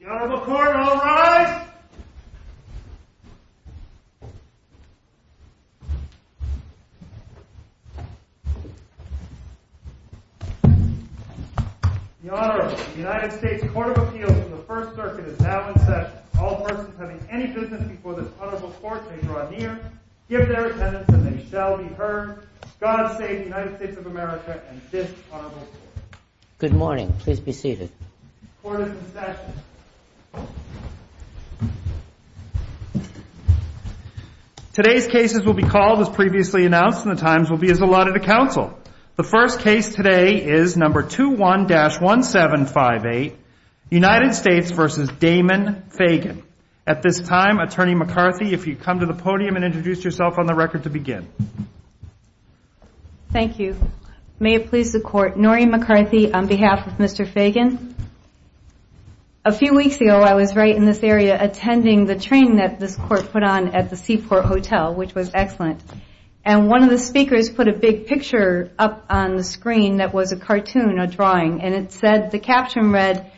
The Honorable Court, all rise! The Honorable United States Court of Appeals in the First Circuit is now in session. All persons having any business before this Honorable Court may draw near, give their attendance, and they shall be heard. God save the United States of America and this Honorable Court. Good morning. Please be seated. Court is in session. Today's cases will be called as previously announced, and the times will be as allotted to counsel. The first case today is No. 21-1758, United States v. Damon Fagan. At this time, Attorney McCarthy, if you'd come to the podium and introduce yourself on the record to begin. Thank you. May it please the Court, Noreen McCarthy on behalf of Mr. Fagan. A few weeks ago, I was right in this area attending the training that this Court put on at the Seaport Hotel, which was excellent. And one of the speakers put a big picture up on the screen that was a cartoon, a drawing. And it said, the caption read,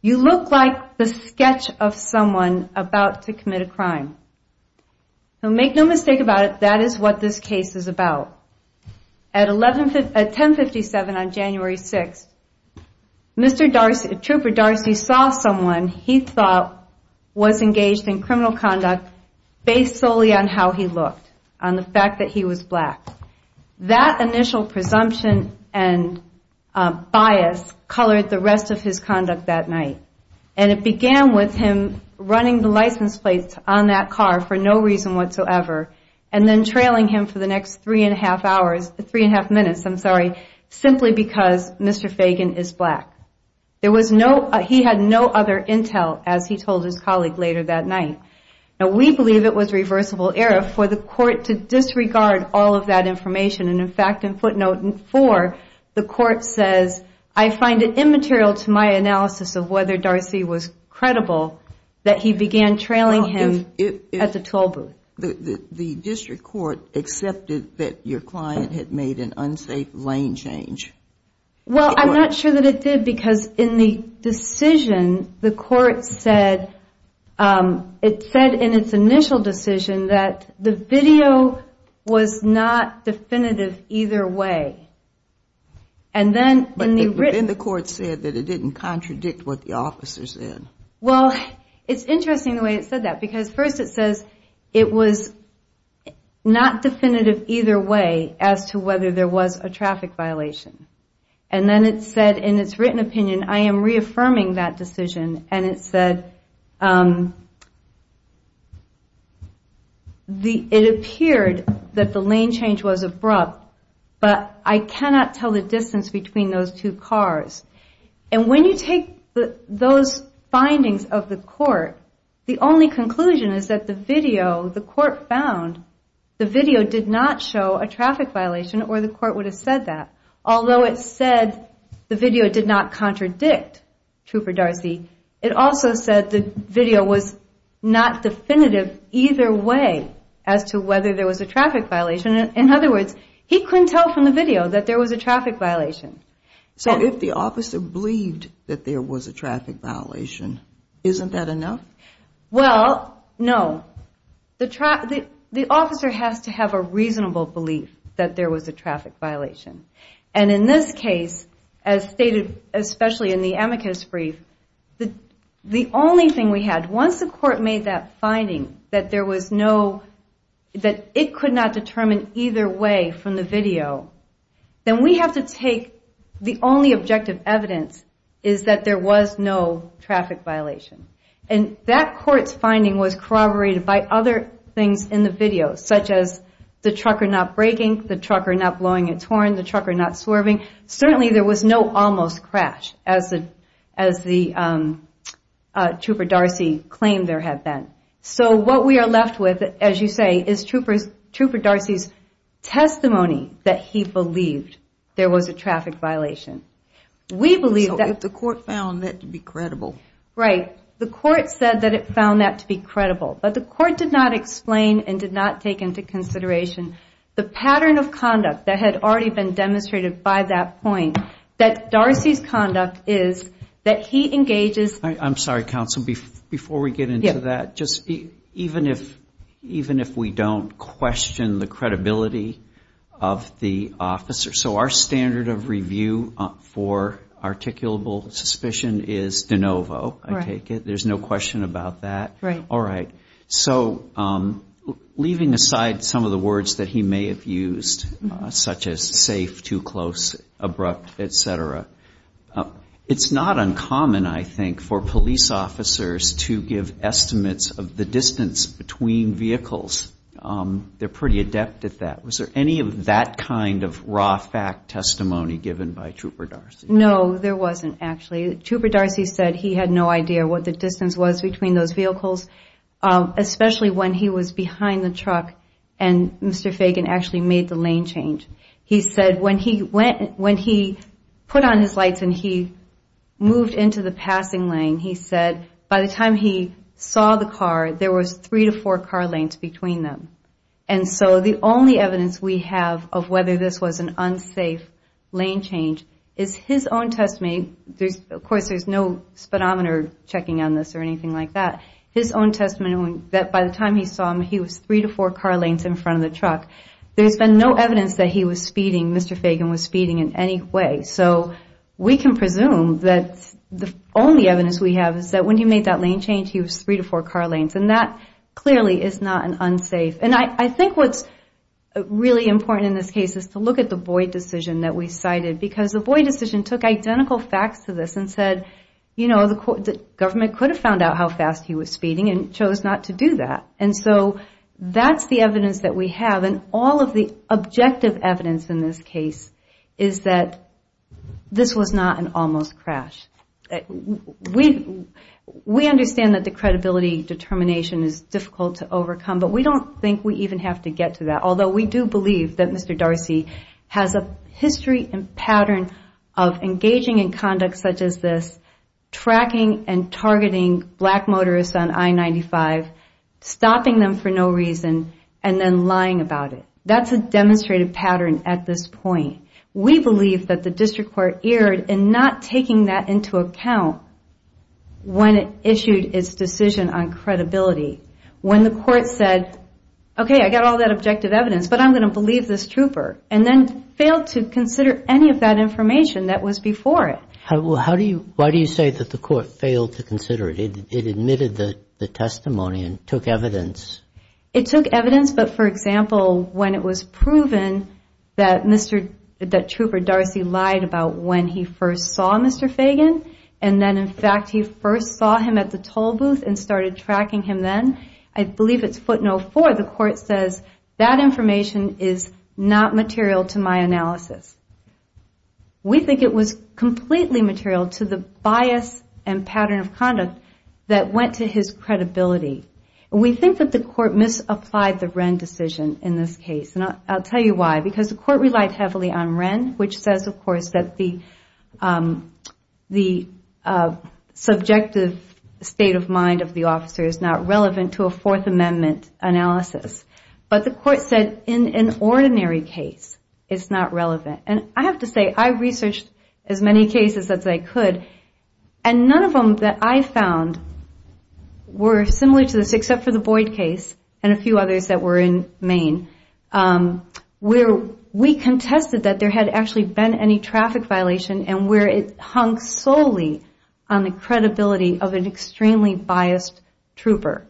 You look like the sketch of someone about to commit a crime. So make no mistake about it, that is what this case is about. At 1057 on January 6th, Trooper Darcy saw someone he thought was engaged in criminal conduct based solely on how he looked, on the fact that he was black. That initial presumption and bias colored the rest of his conduct that night. And it began with him running the license plates on that car for no reason whatsoever. And then trailing him for the next three and a half hours, three and a half minutes, I'm sorry, simply because Mr. Fagan is black. There was no, he had no other intel, as he told his colleague later that night. Now we believe it was reversible error for the Court to disregard all of that information. And in fact, in footnote four, the Court says, I find it immaterial to my analysis of whether Darcy was credible that he began trailing him at the toll booth. The District Court accepted that your client had made an unsafe lane change. Well, I'm not sure that it did, because in the decision, the Court said, it said in its initial decision that the video was not definitive either way. But then the Court said that it didn't contradict what the officer said. Well, it's interesting the way it said that, because first it says it was not definitive either way as to whether there was a traffic violation. And then it said in its written opinion, I am reaffirming that decision, and it said, it appeared that the lane change was abrupt, but I cannot tell the distance between those two cars. And when you take those findings of the Court, the only conclusion is that the video the Court found, the video did not show a traffic violation or the Court would have said that. Although it said the video did not contradict Trooper Darcy, it also said the video was not definitive either way as to whether there was a traffic violation. In other words, he couldn't tell from the video that there was a traffic violation. So if the officer believed that there was a traffic violation, isn't that enough? Well, no. The officer has to have a reasonable belief that there was a traffic violation. And in this case, as stated especially in the amicus brief, the only thing we had, once the Court made that finding that it could not determine either way from the video, then we have to take the only objective evidence is that there was no traffic violation. And that Court's finding was corroborated by other things in the video, such as the trucker not braking, the trucker not blowing a torn, the trucker not swerving. Certainly there was no almost crash as the Trooper Darcy claimed there had been. So what we are left with, as you say, is Trooper Darcy's testimony that he believed there was a traffic violation. So if the Court found that to be credible. Right. The Court said that it found that to be credible. But the Court did not explain and did not take into consideration the pattern of conduct that had already been demonstrated by that point, that Darcy's conduct is that he engages... I'm sorry, Counsel, before we get into that, even if we don't question the credibility of the officer. So our standard of review for articulable suspicion is de novo, I take it. There's no question about that. Right. All right. So leaving aside some of the words that he may have used, such as safe, too close, abrupt, etc., it's not uncommon, I think, for police officers to give estimates of the distance between vehicles. They're pretty adept at that. Was there any of that kind of raw fact testimony given by Trooper Darcy? No, there wasn't, actually. Trooper Darcy said he had no idea what the distance was between those vehicles, especially when he was behind the truck and Mr. Fagan actually made the lane change. He said when he put on his lights and he moved into the passing lane, he said by the time he saw the car, there was three to four car lanes between them. And so the only evidence we have of whether this was an unsafe lane change is his own testimony. Of course, there's no speedometer checking on this or anything like that. His own testimony that by the time he saw him, he was three to four car lanes in front of the truck. There's been no evidence that he was speeding, Mr. Fagan was speeding in any way. So we can presume that the only evidence we have is that when he made that lane change, he was three to four car lanes. And that clearly is not an unsafe. And I think what's really important in this case is to look at the Boyd decision that we cited because the Boyd decision took identical facts to this and said, you know, the government could have found out how fast he was speeding and chose not to do that. And so that's the evidence that we have. And all of the objective evidence in this case is that this was not an almost crash. We understand that the credibility determination is difficult to overcome, but we don't think we even have to get to that. Although we do believe that Mr. Darcy has a history and pattern of engaging in conduct such as this, tracking and targeting black motorists on I-95, stopping them for no reason, and then lying about it. That's a demonstrated pattern at this point. We believe that the district court erred in not taking that into account when it issued its decision on credibility. When the court said, okay, I got all that objective evidence, but I'm going to believe this trooper, and then failed to consider any of that information that was before it. Why do you say that the court failed to consider it? It admitted the testimony and took evidence. It took evidence, but for example, when it was proven that Trooper Darcy lied about when he first saw Mr. Fagan, and then in fact he first saw him at the toll booth and started tracking him then, I believe it's footnote four, the court says that information is not material to my analysis. We think it was completely material to the bias and pattern of conduct that went to his credibility. We think that the court misapplied the Wren decision in this case, and I'll tell you why. Because the court relied heavily on Wren, which says, of course, that the subjective state of mind of the officer is not relevant to a Fourth Amendment analysis. But the court said in an ordinary case it's not relevant. And I have to say, I researched as many cases as I could, and none of them that I found were similar to this except for the Boyd case and a few others that were in Maine, where we contested that there had actually been any traffic violation and where it hung solely on the credibility of an extremely biased trooper,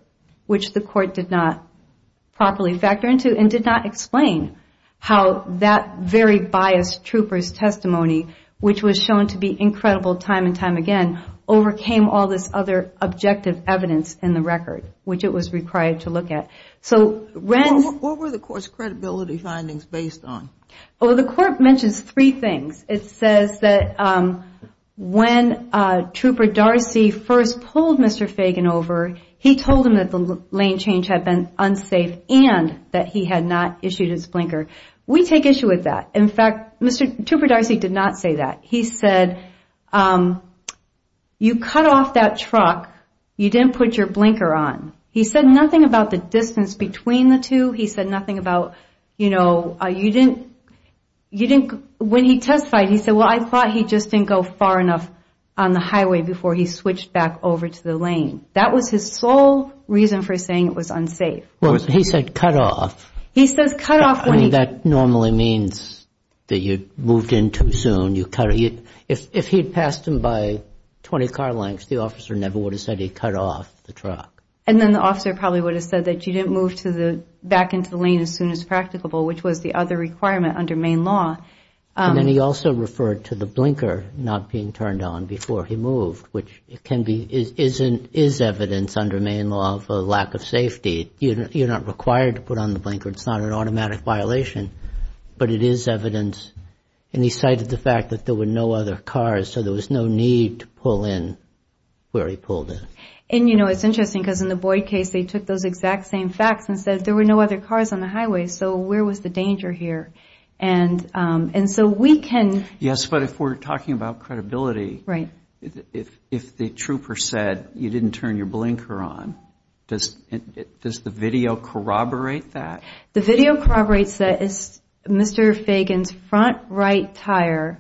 which the court did not properly factor into and did not explain how that very biased trooper's testimony, which was shown to be incredible time and time again, overcame all this other objective evidence in the record, which it was required to look at. What were the court's credibility findings based on? The court mentions three things. It says that when Trooper Darcy first pulled Mr. Fagan over, he told him that the lane change had been unsafe and that he had not issued his blinker. We take issue with that. In fact, Mr. Trooper Darcy did not say that. He said, you cut off that truck. You didn't put your blinker on. He said nothing about the distance between the two. He said nothing about, you know, you didn't, when he testified, he said, well, I thought he just didn't go far enough on the highway before he switched back over to the lane. That was his sole reason for saying it was unsafe. He said cut off. That normally means that you moved in too soon. If he had passed him by 20 car lengths, the officer never would have said he cut off the truck. And then the officer probably would have said that you didn't move back into the lane as soon as practicable, which was the other requirement under Maine law. And then he also referred to the blinker not being turned on before he moved, which can be, is evidence under Maine law of a lack of safety. You're not required to put on the blinker. It's not an automatic violation, but it is evidence. And he cited the fact that there were no other cars, so there was no need to pull in where he pulled in. And, you know, it's interesting because in the Boyd case, they took those exact same facts and said there were no other cars on the highway, so where was the danger here? And so we can. Yes, but if we're talking about credibility, if the trooper said you didn't turn your blinker on, does the video corroborate that? The video corroborates that Mr. Fagan's front right tire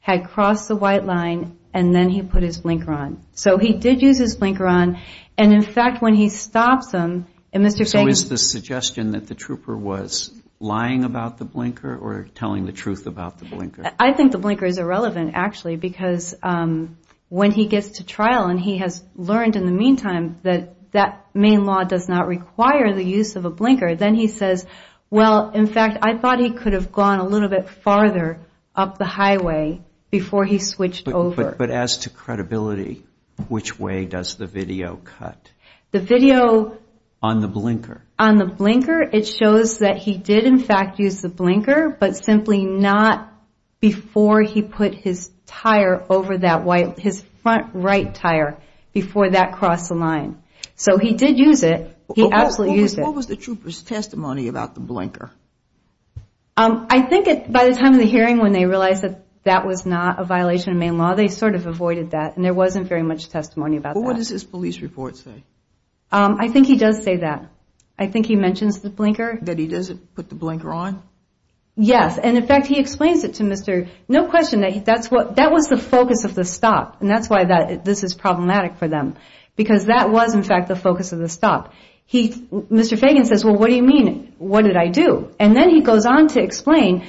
had crossed the white line, and then he put his blinker on. So he did use his blinker on. And, in fact, when he stops him and Mr. Fagan. So is the suggestion that the trooper was lying about the blinker or telling the truth about the blinker? I think the blinker is irrelevant, actually, because when he gets to trial and he has learned in the meantime that that main law does not require the use of a blinker, then he says, well, in fact, I thought he could have gone a little bit farther up the highway before he switched over. But as to credibility, which way does the video cut? The video. On the blinker. On the blinker, it shows that he did, in fact, use the blinker, but simply not before he put his tire over that white, his front right tire, before that crossed the line. So he did use it. He absolutely used it. What was the trooper's testimony about the blinker? I think by the time of the hearing when they realized that that was not a violation of main law, they sort of avoided that and there wasn't very much testimony about that. What does his police report say? I think he does say that. I think he mentions the blinker. That he doesn't put the blinker on? Yes, and, in fact, he explains it to Mr. No question, that was the focus of the stop, and that's why this is problematic for them, because that was, in fact, the focus of the stop. Mr. Fagan says, well, what do you mean? What did I do? And then he goes on to explain,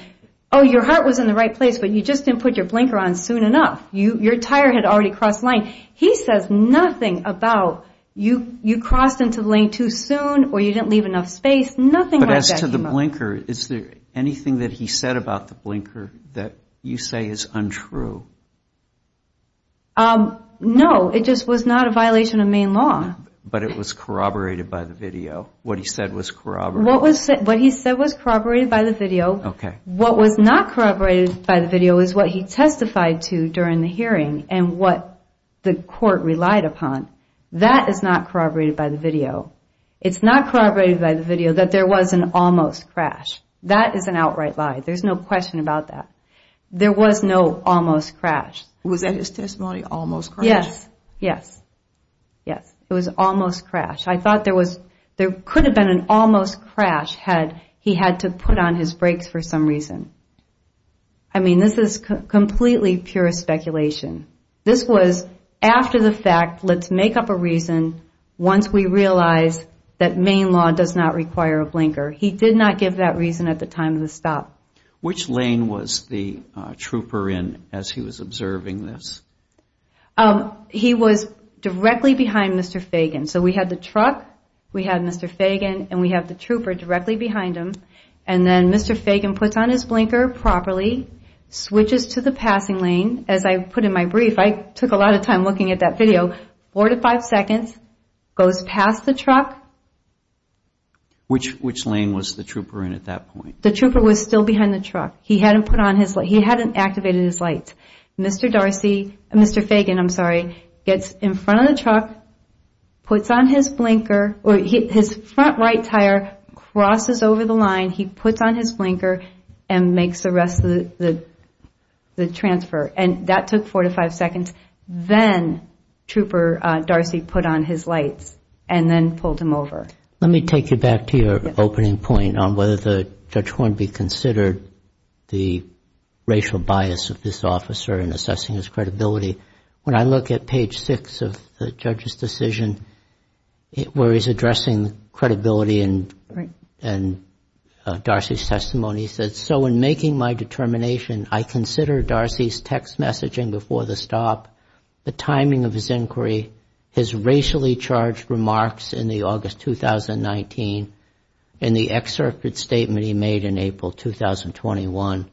oh, your heart was in the right place, but you just didn't put your blinker on soon enough. Your tire had already crossed the line. He says nothing about you crossed into the lane too soon or you didn't leave enough space, nothing like that came up. But as to the blinker, is there anything that he said about the blinker that you say is untrue? No, it just was not a violation of main law. But it was corroborated by the video, what he said was corroborated. What he said was corroborated by the video. What was not corroborated by the video is what he testified to during the hearing and what the court relied upon. That is not corroborated by the video. It's not corroborated by the video that there was an almost crash. That is an outright lie. There's no question about that. There was no almost crash. Was that his testimony, almost crash? Yes. Yes. Yes. It was almost crash. I thought there could have been an almost crash had he had to put on his brakes for some reason. I mean, this is completely pure speculation. This was after the fact. Let's make up a reason once we realize that main law does not require a blinker. He did not give that reason at the time of the stop. Which lane was the trooper in as he was observing this? He was directly behind Mr. Fagan. So we had the truck, we had Mr. Fagan, and we had the trooper directly behind him. And then Mr. Fagan puts on his blinker properly, switches to the passing lane, as I put in my brief, I took a lot of time looking at that video, four to five seconds, goes past the truck. Which lane was the trooper in at that point? The trooper was still behind the truck. He hadn't activated his lights. Mr. Fagan gets in front of the truck, puts on his blinker, his front right tire crosses over the line, he puts on his blinker and makes the rest of the transfer. And that took four to five seconds. Then Trooper Darcy put on his lights and then pulled him over. Let me take you back to your opening point on whether Judge Hornby considered the racial bias of this officer in assessing his credibility. When I look at page six of the judge's decision, where he's addressing credibility and Darcy's testimony, he says, So in making my determination, I consider Darcy's text messaging before the stop, the timing of his inquiry, his racially charged remarks in the August 2019, and the excerpted statement he made in April 2021,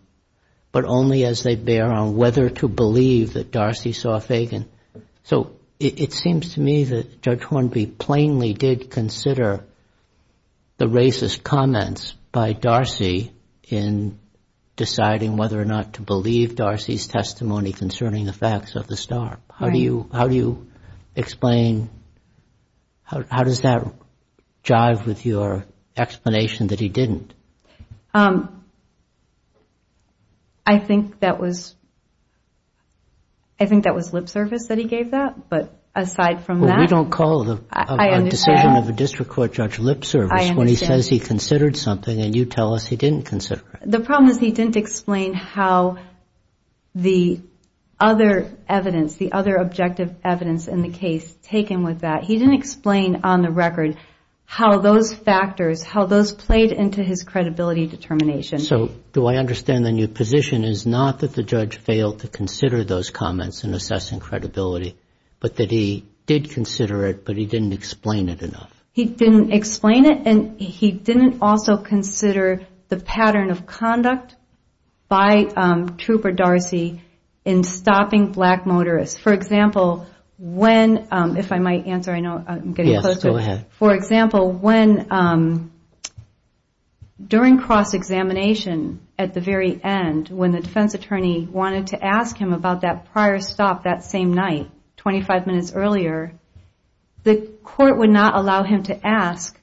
but only as they bear on whether to believe that Darcy saw Fagan. So it seems to me that Judge Hornby plainly did consider the racist comments by Darcy in deciding whether or not to believe Darcy's testimony concerning the facts of the stop. How do you explain, how does that jive with your explanation that he didn't? I think that was lip service that he gave that. But aside from that, Well, we don't call the decision of a district court judge lip service when he says he considered something and you tell us he didn't consider it. The problem is he didn't explain how the other evidence, the other objective evidence in the case taken with that. He didn't explain on the record how those factors, how those played into his credibility determination. So do I understand the new position is not that the judge failed to consider those comments in assessing credibility, but that he did consider it, but he didn't explain it enough. He didn't explain it, and he didn't also consider the pattern of conduct by Trooper Darcy in stopping black motorists. For example, when, if I might answer, I know I'm getting close to it. For example, when, during cross-examination at the very end, when the defense attorney wanted to ask him about that prior stop that same night, 25 minutes earlier, the court would not allow him to ask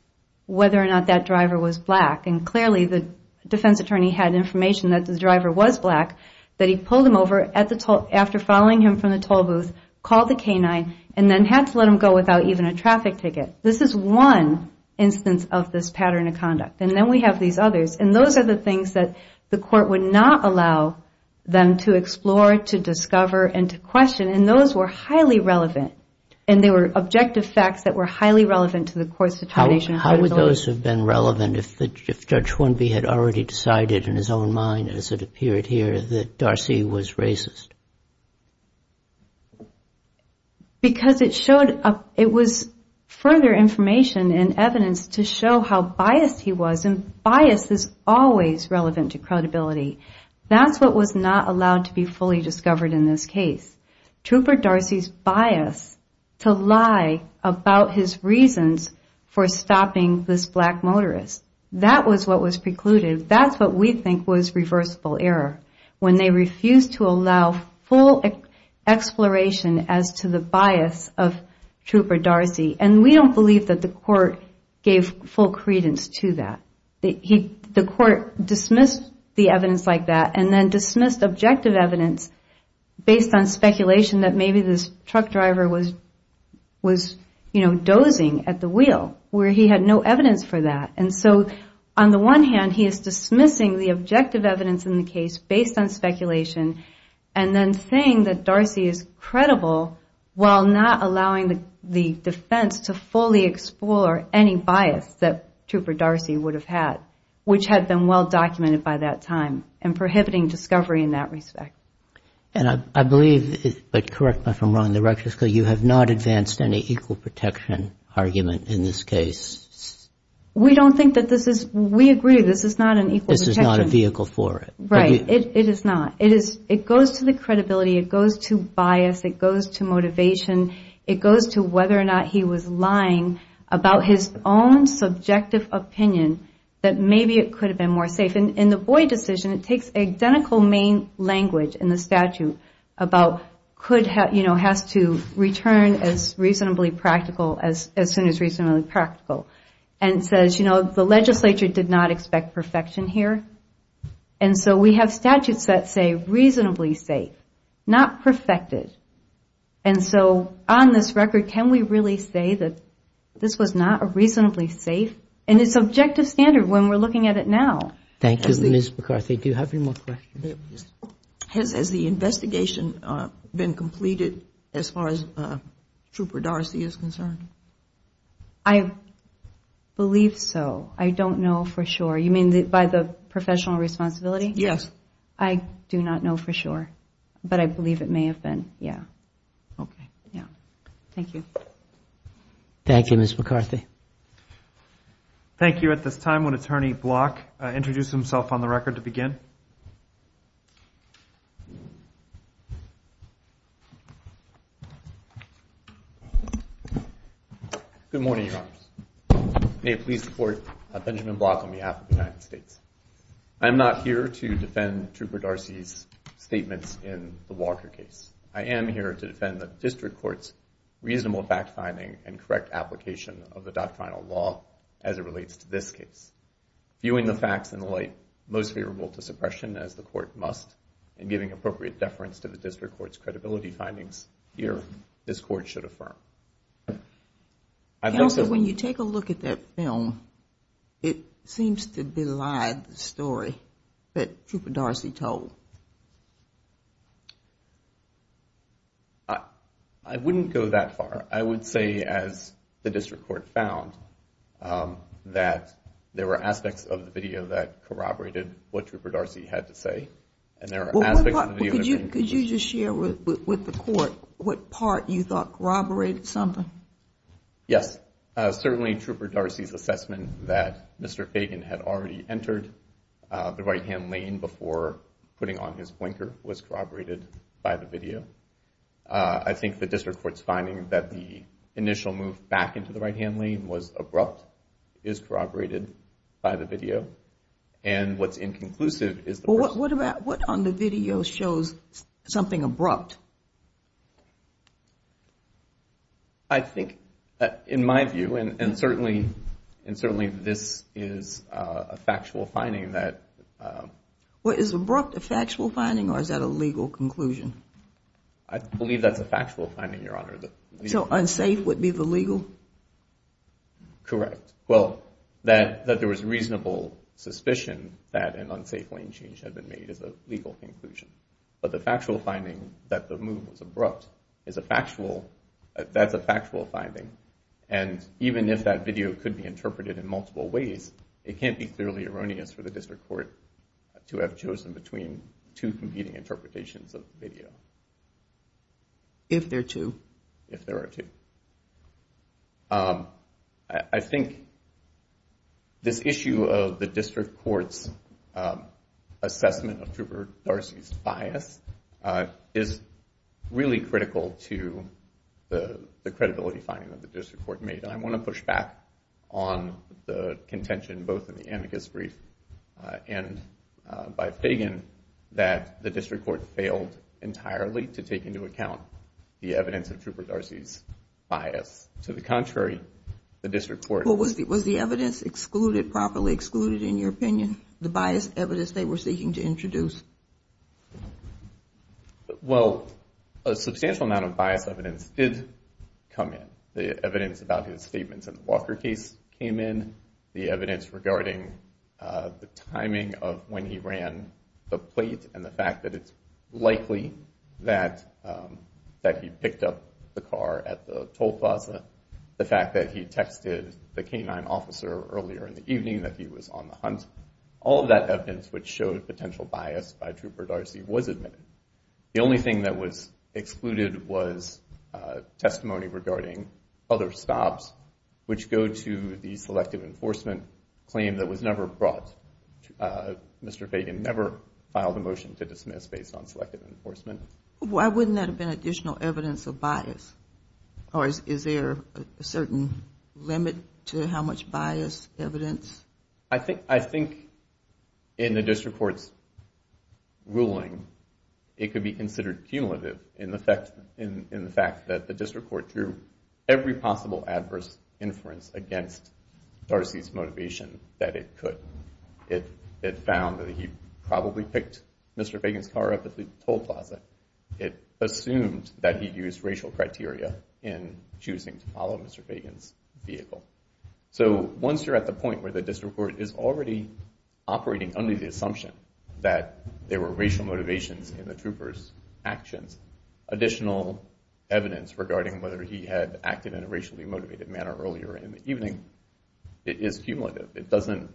whether or not that driver was black. And clearly the defense attorney had information that the driver was black, that he pulled him over after following him from the toll booth, called the K-9, and then had to let him go without even a traffic ticket. This is one instance of this pattern of conduct. And then we have these others, and those are the things that the court would not allow them to explore, to discover, and to question, and those were highly relevant. And they were objective facts that were highly relevant to the court's determination of credibility. How would those have been relevant if Judge Hornby had already decided in his own mind, as it appeared here, that Darcy was racist? Because it showed, it was further information and evidence to show how biased he was, and bias is always relevant to credibility. That's what was not allowed to be fully discovered in this case. Trooper Darcy's bias to lie about his reasons for stopping this black motorist, that was what was precluded. That's what we think was reversible error. When they refused to allow full exploration as to the bias of Trooper Darcy, and we don't believe that the court gave full credence to that. The court dismissed the evidence like that, and then dismissed objective evidence, based on speculation that maybe this truck driver was dozing at the wheel, where he had no evidence for that. And so, on the one hand, he is dismissing the objective evidence in the case based on speculation, and then saying that Darcy is credible, while not allowing the defense to fully explore any bias that Trooper Darcy would have had, which had been well documented by that time, and prohibiting discovery in that respect. And I believe, but correct me if I'm wrong, you have not advanced any equal protection argument in this case. We don't think that this is, we agree, this is not an equal protection. This is not a vehicle for it. Right, it is not. It goes to the credibility, it goes to bias, it goes to motivation, it goes to whether or not he was lying about his own subjective opinion, that maybe it could have been more safe. In the Boyd decision, it takes identical main language in the statute about, could have, you know, has to return as reasonably practical, as soon as reasonably practical. And says, you know, the legislature did not expect perfection here. And so we have statutes that say reasonably safe, not perfected. And so, on this record, can we really say that this was not a reasonably safe, and it's objective standard when we're looking at it now. Thank you, Ms. McCarthy. Do you have any more questions? Has the investigation been completed as far as Trooper Darcy is concerned? I believe so. I don't know for sure. You mean by the professional responsibility? Yes. I do not know for sure. But I believe it may have been, yeah. Okay. Yeah. Thank you. Thank you, Ms. McCarthy. Thank you. At this time, would Attorney Block introduce himself on the record to begin? Good morning, Your Honors. May it please the Court, I'm Benjamin Block on behalf of the United States. I am not here to defend Trooper Darcy's statements in the Walker case. I am here to defend the District Court's reasonable fact-finding and correct application of the doctrinal law as it relates to this case. Viewing the facts in the light most favorable to suppression, as the Court must, and giving appropriate deference to the District Court's credibility findings, here, this Court should affirm. Counsel, when you take a look at that film, it seems to belied the story that Trooper Darcy told. I wouldn't go that far. I would say, as the District Court found, that there were aspects of the video that corroborated what Trooper Darcy had to say. And there are aspects of the video that didn't. Could you just share with the Court what part you thought corroborated something? Yes. Certainly Trooper Darcy's assessment that Mr. Fagan had already entered the right-hand lane before putting on his blinker was corroborated by the video. I think the District Court's finding that the initial move back into the right-hand lane was abrupt is corroborated by the video. And what's inconclusive is the person. What on the video shows something abrupt? I think, in my view, and certainly this is a factual finding that... Well, is abrupt a factual finding or is that a legal conclusion? I believe that's a factual finding, Your Honor. So unsafe would be the legal? Correct. Well, that there was reasonable suspicion that an unsafe lane change had been made is a legal conclusion. But the factual finding that the move was abrupt is a factual... That's a factual finding. And even if that video could be interpreted in multiple ways, it can't be thoroughly erroneous for the District Court to have chosen between two competing interpretations of the video. If there are two? If there are two. I think this issue of the District Court's assessment of Trooper Darcy's bias is really critical to the credibility finding that the District Court made. And I want to push back on the contention, both in the amicus brief and by Fagan, that the District Court failed entirely to take into account the evidence of Trooper Darcy's bias. To the contrary, the District Court... Well, was the evidence excluded, properly excluded, in your opinion? The biased evidence they were seeking to introduce? Well, a substantial amount of biased evidence did come in. The evidence about his statements in the Walker case came in. The evidence regarding the timing of when he ran the plate and the fact that it's likely that he picked up the car at the toll plaza. The fact that he texted the canine officer earlier in the evening that he was on the hunt. All of that evidence which showed potential bias by Trooper Darcy was admitted. The only thing that was excluded was testimony regarding other stops, which go to the selective enforcement claim that was never brought. Mr. Fagan never filed a motion to dismiss based on selective enforcement. Why wouldn't that have been additional evidence of bias? Or is there a certain limit to how much bias evidence? I think in the District Court's ruling, it could be considered cumulative in the fact that the District Court drew every possible adverse inference against Darcy's motivation that it could. It found that he probably picked Mr. Fagan's car up at the toll plaza. It assumed that he used racial criteria in choosing to follow Mr. Fagan's vehicle. So once you're at the point where the District Court is already operating under the assumption that there were racial motivations in the trooper's actions, additional evidence regarding whether he had acted in a racially motivated manner earlier in the evening is cumulative. It doesn't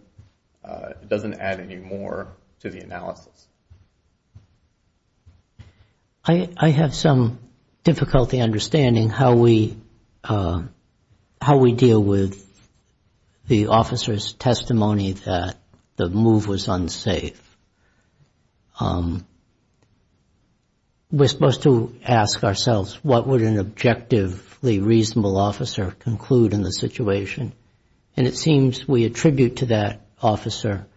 add any more to the analysis. I have some difficulty understanding how we deal with the officer's testimony that the move was unsafe. We're supposed to ask ourselves, what would an objectively reasonable officer conclude in the situation? And it seems we attribute to that officer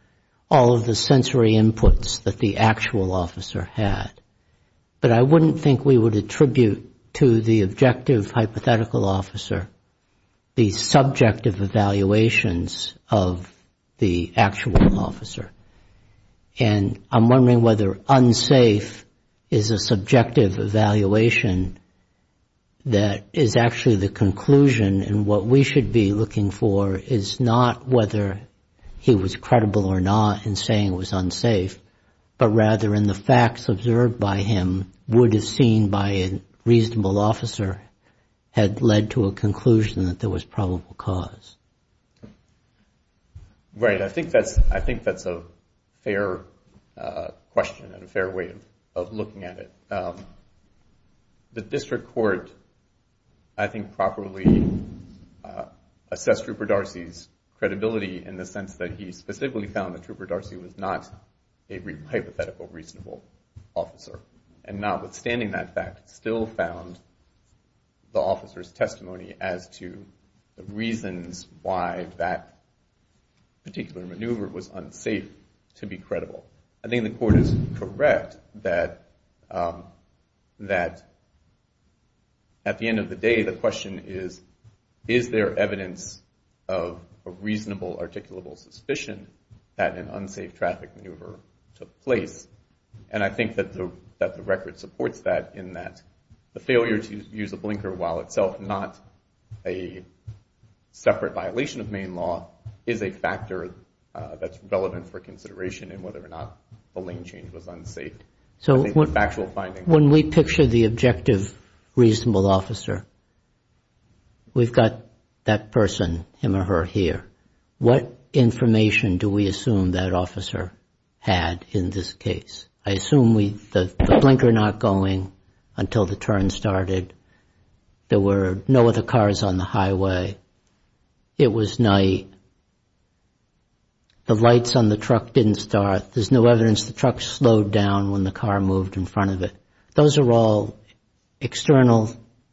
all of the sensory inputs that the actual officer had. But I wouldn't think we would attribute to the objective hypothetical officer the subjective evaluations of the actual officer. And I'm wondering whether unsafe is a subjective evaluation that is actually the conclusion. And what we should be looking for is not whether he was credible or not in saying it was unsafe, but rather in the facts observed by him that would have been seen by a reasonable officer had led to a conclusion that there was probable cause. Right. I think that's a fair question and a fair way of looking at it. The District Court, I think, properly assessed Trooper Darcy's credibility in the sense that he specifically found that Trooper Darcy was not a hypothetical reasonable officer. And notwithstanding that fact, still found the officer's testimony as to the reasons why that particular maneuver was unsafe to be credible. I think the Court is correct that at the end of the day, the question is, is there evidence of a reasonable articulable suspicion that an unsafe traffic maneuver took place? And I think that the record supports that in that the failure to use a blinker while itself not a separate violation of main law is a factor that's relevant for consideration in whether or not the lane change was unsafe. So when we picture the objective reasonable officer, we've got that person, him or her, here. What information do we assume that officer had in this case? I assume the blinker not going until the turn started. There were no other cars on the highway. It was night. The lights on the truck didn't start. There's no evidence the truck slowed down when the car moved in front of it. Those are all external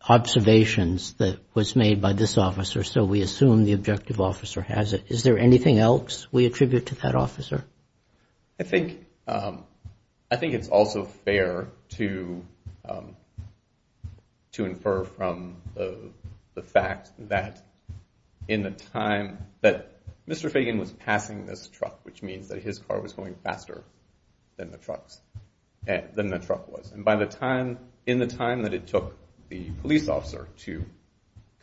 observations that was made by this officer, so we assume the objective officer has it. Is there anything else we attribute to that officer? I think it's also fair to infer from the fact that in the time that Mr. Fagan was passing this truck, which means that his car was going faster than the truck was, and in the time that it took the police officer to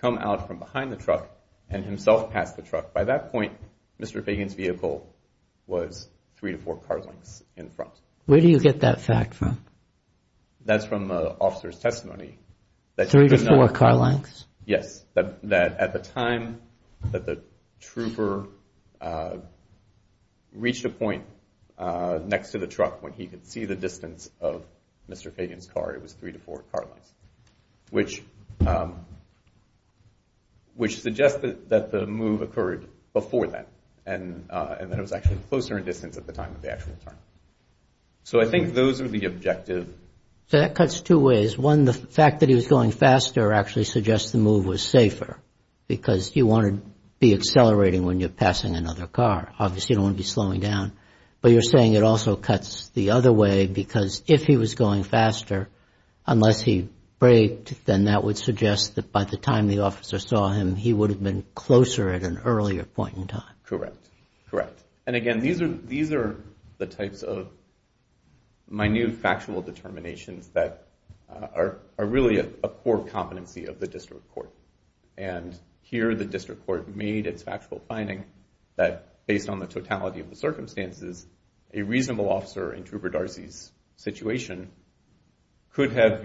come out from behind the truck and himself pass the truck, by that point, Mr. Fagan's vehicle was three to four car lengths in front. Where do you get that fact from? That's from the officer's testimony. Three to four car lengths? Yes, that at the time that the trooper reached a point next to the truck when he could see the distance of Mr. Fagan's car, it was three to four car lengths, which suggests that the move occurred before that and that it was actually closer in distance at the time of the actual turn. So I think those are the objective. So that cuts two ways. One, the fact that he was going faster actually suggests the move was safer because you want to be accelerating when you're passing another car. Obviously, you don't want to be slowing down, but you're saying it also cuts the other way because if he was going faster, unless he braked, then that would suggest that by the time the officer saw him, he would have been closer at an earlier point in time. Correct. Again, these are the types of minute factual determinations that are really a core competency of the district court. Here, the district court made its factual finding that based on the totality of the circumstances, a reasonable officer in Trooper Darcy's situation could have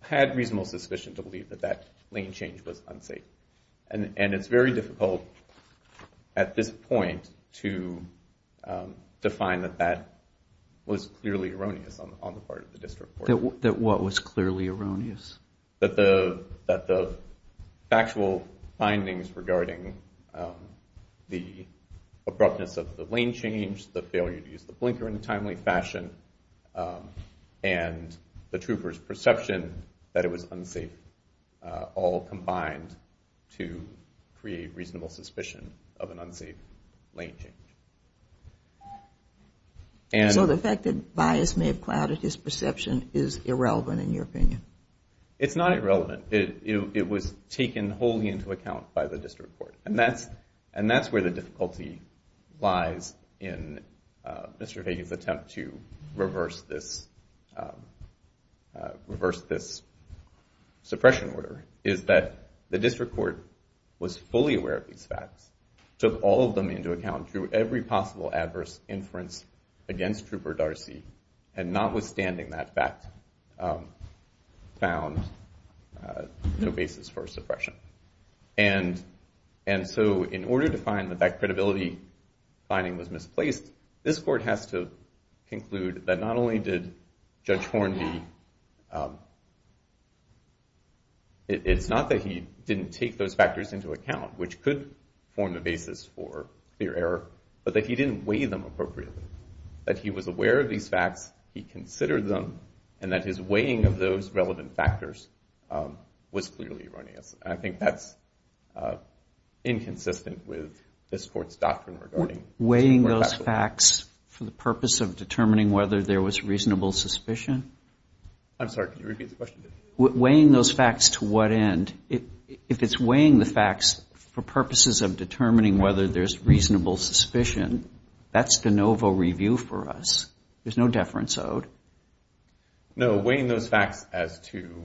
had reasonable suspicion to believe that that lane change was unsafe. And it's very difficult at this point to define that that was clearly erroneous on the part of the district court. That what was clearly erroneous? That the factual findings regarding the abruptness of the lane change, the failure to use the blinker in a timely fashion, and the trooper's perception that it was unsafe all combined to create reasonable suspicion of an unsafe lane change. So the fact that bias may have clouded his perception is irrelevant in your opinion? It's not irrelevant. It was taken wholly into account by the district court. And that's where the difficulty lies in Mr. Fagan's attempt to reverse this suppression order, is that the district court was fully aware of these facts, took all of them into account through every possible adverse inference against Trooper Darcy, and notwithstanding that fact, found no basis for suppression. And so in order to find that that credibility finding was misplaced, this court has to conclude that not only did Judge Horn be... It's not that he didn't take those factors into account, which could form the basis for clear error, but that he didn't weigh them appropriately. That he was aware of these facts, he considered them, and that his weighing of those relevant factors was clearly erroneous. And I think that's inconsistent with this court's doctrine regarding... Weighing those facts for the purpose of determining whether there was reasonable suspicion? I'm sorry, could you repeat the question? Weighing those facts to what end? If it's weighing the facts for purposes of determining whether there's reasonable suspicion, that's de novo review for us. There's no deference owed. No, weighing those facts as to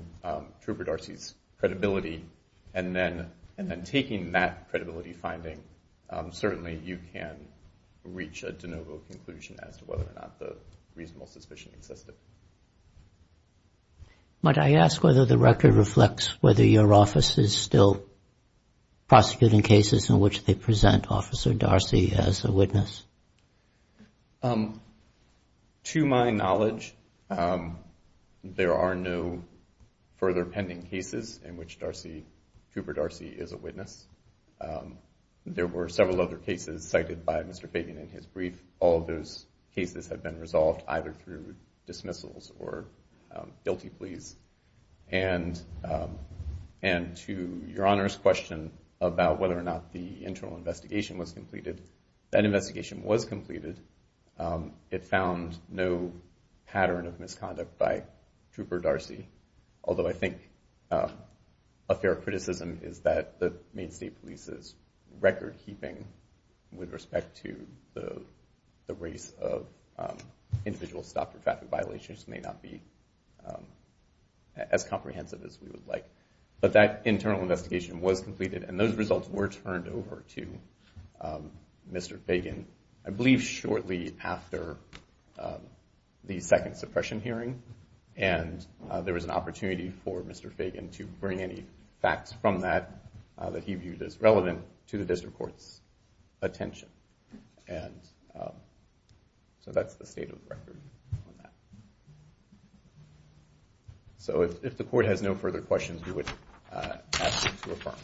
Trooper Darcy's credibility, and then taking that credibility finding, certainly you can reach a de novo conclusion as to whether or not the reasonable suspicion existed. Might I ask whether the record reflects whether your office is still prosecuting cases in which they present Officer Darcy as a witness? To my knowledge, there are no further pending cases in which Darcy, Trooper Darcy, is a witness. There were several other cases cited by Mr. Fabian in his brief. All of those cases have been resolved either through dismissals or guilty pleas. And to Your Honor's question about whether or not the internal investigation was completed, that investigation was completed. It found no pattern of misconduct by Trooper Darcy, although I think a fair criticism is that the Maine State Police's record-keeping with respect to the race of individual stopped for traffic violations may not be as comprehensive as we would like. But that internal investigation was completed, and those results were turned over to Mr. Fabian, I believe shortly after the second suppression hearing. And there was an opportunity for Mr. Fabian to bring any facts from that that he viewed as relevant to the district court's attention. And so that's the state of the record on that. So if the court has no further questions, we would ask them to affirm.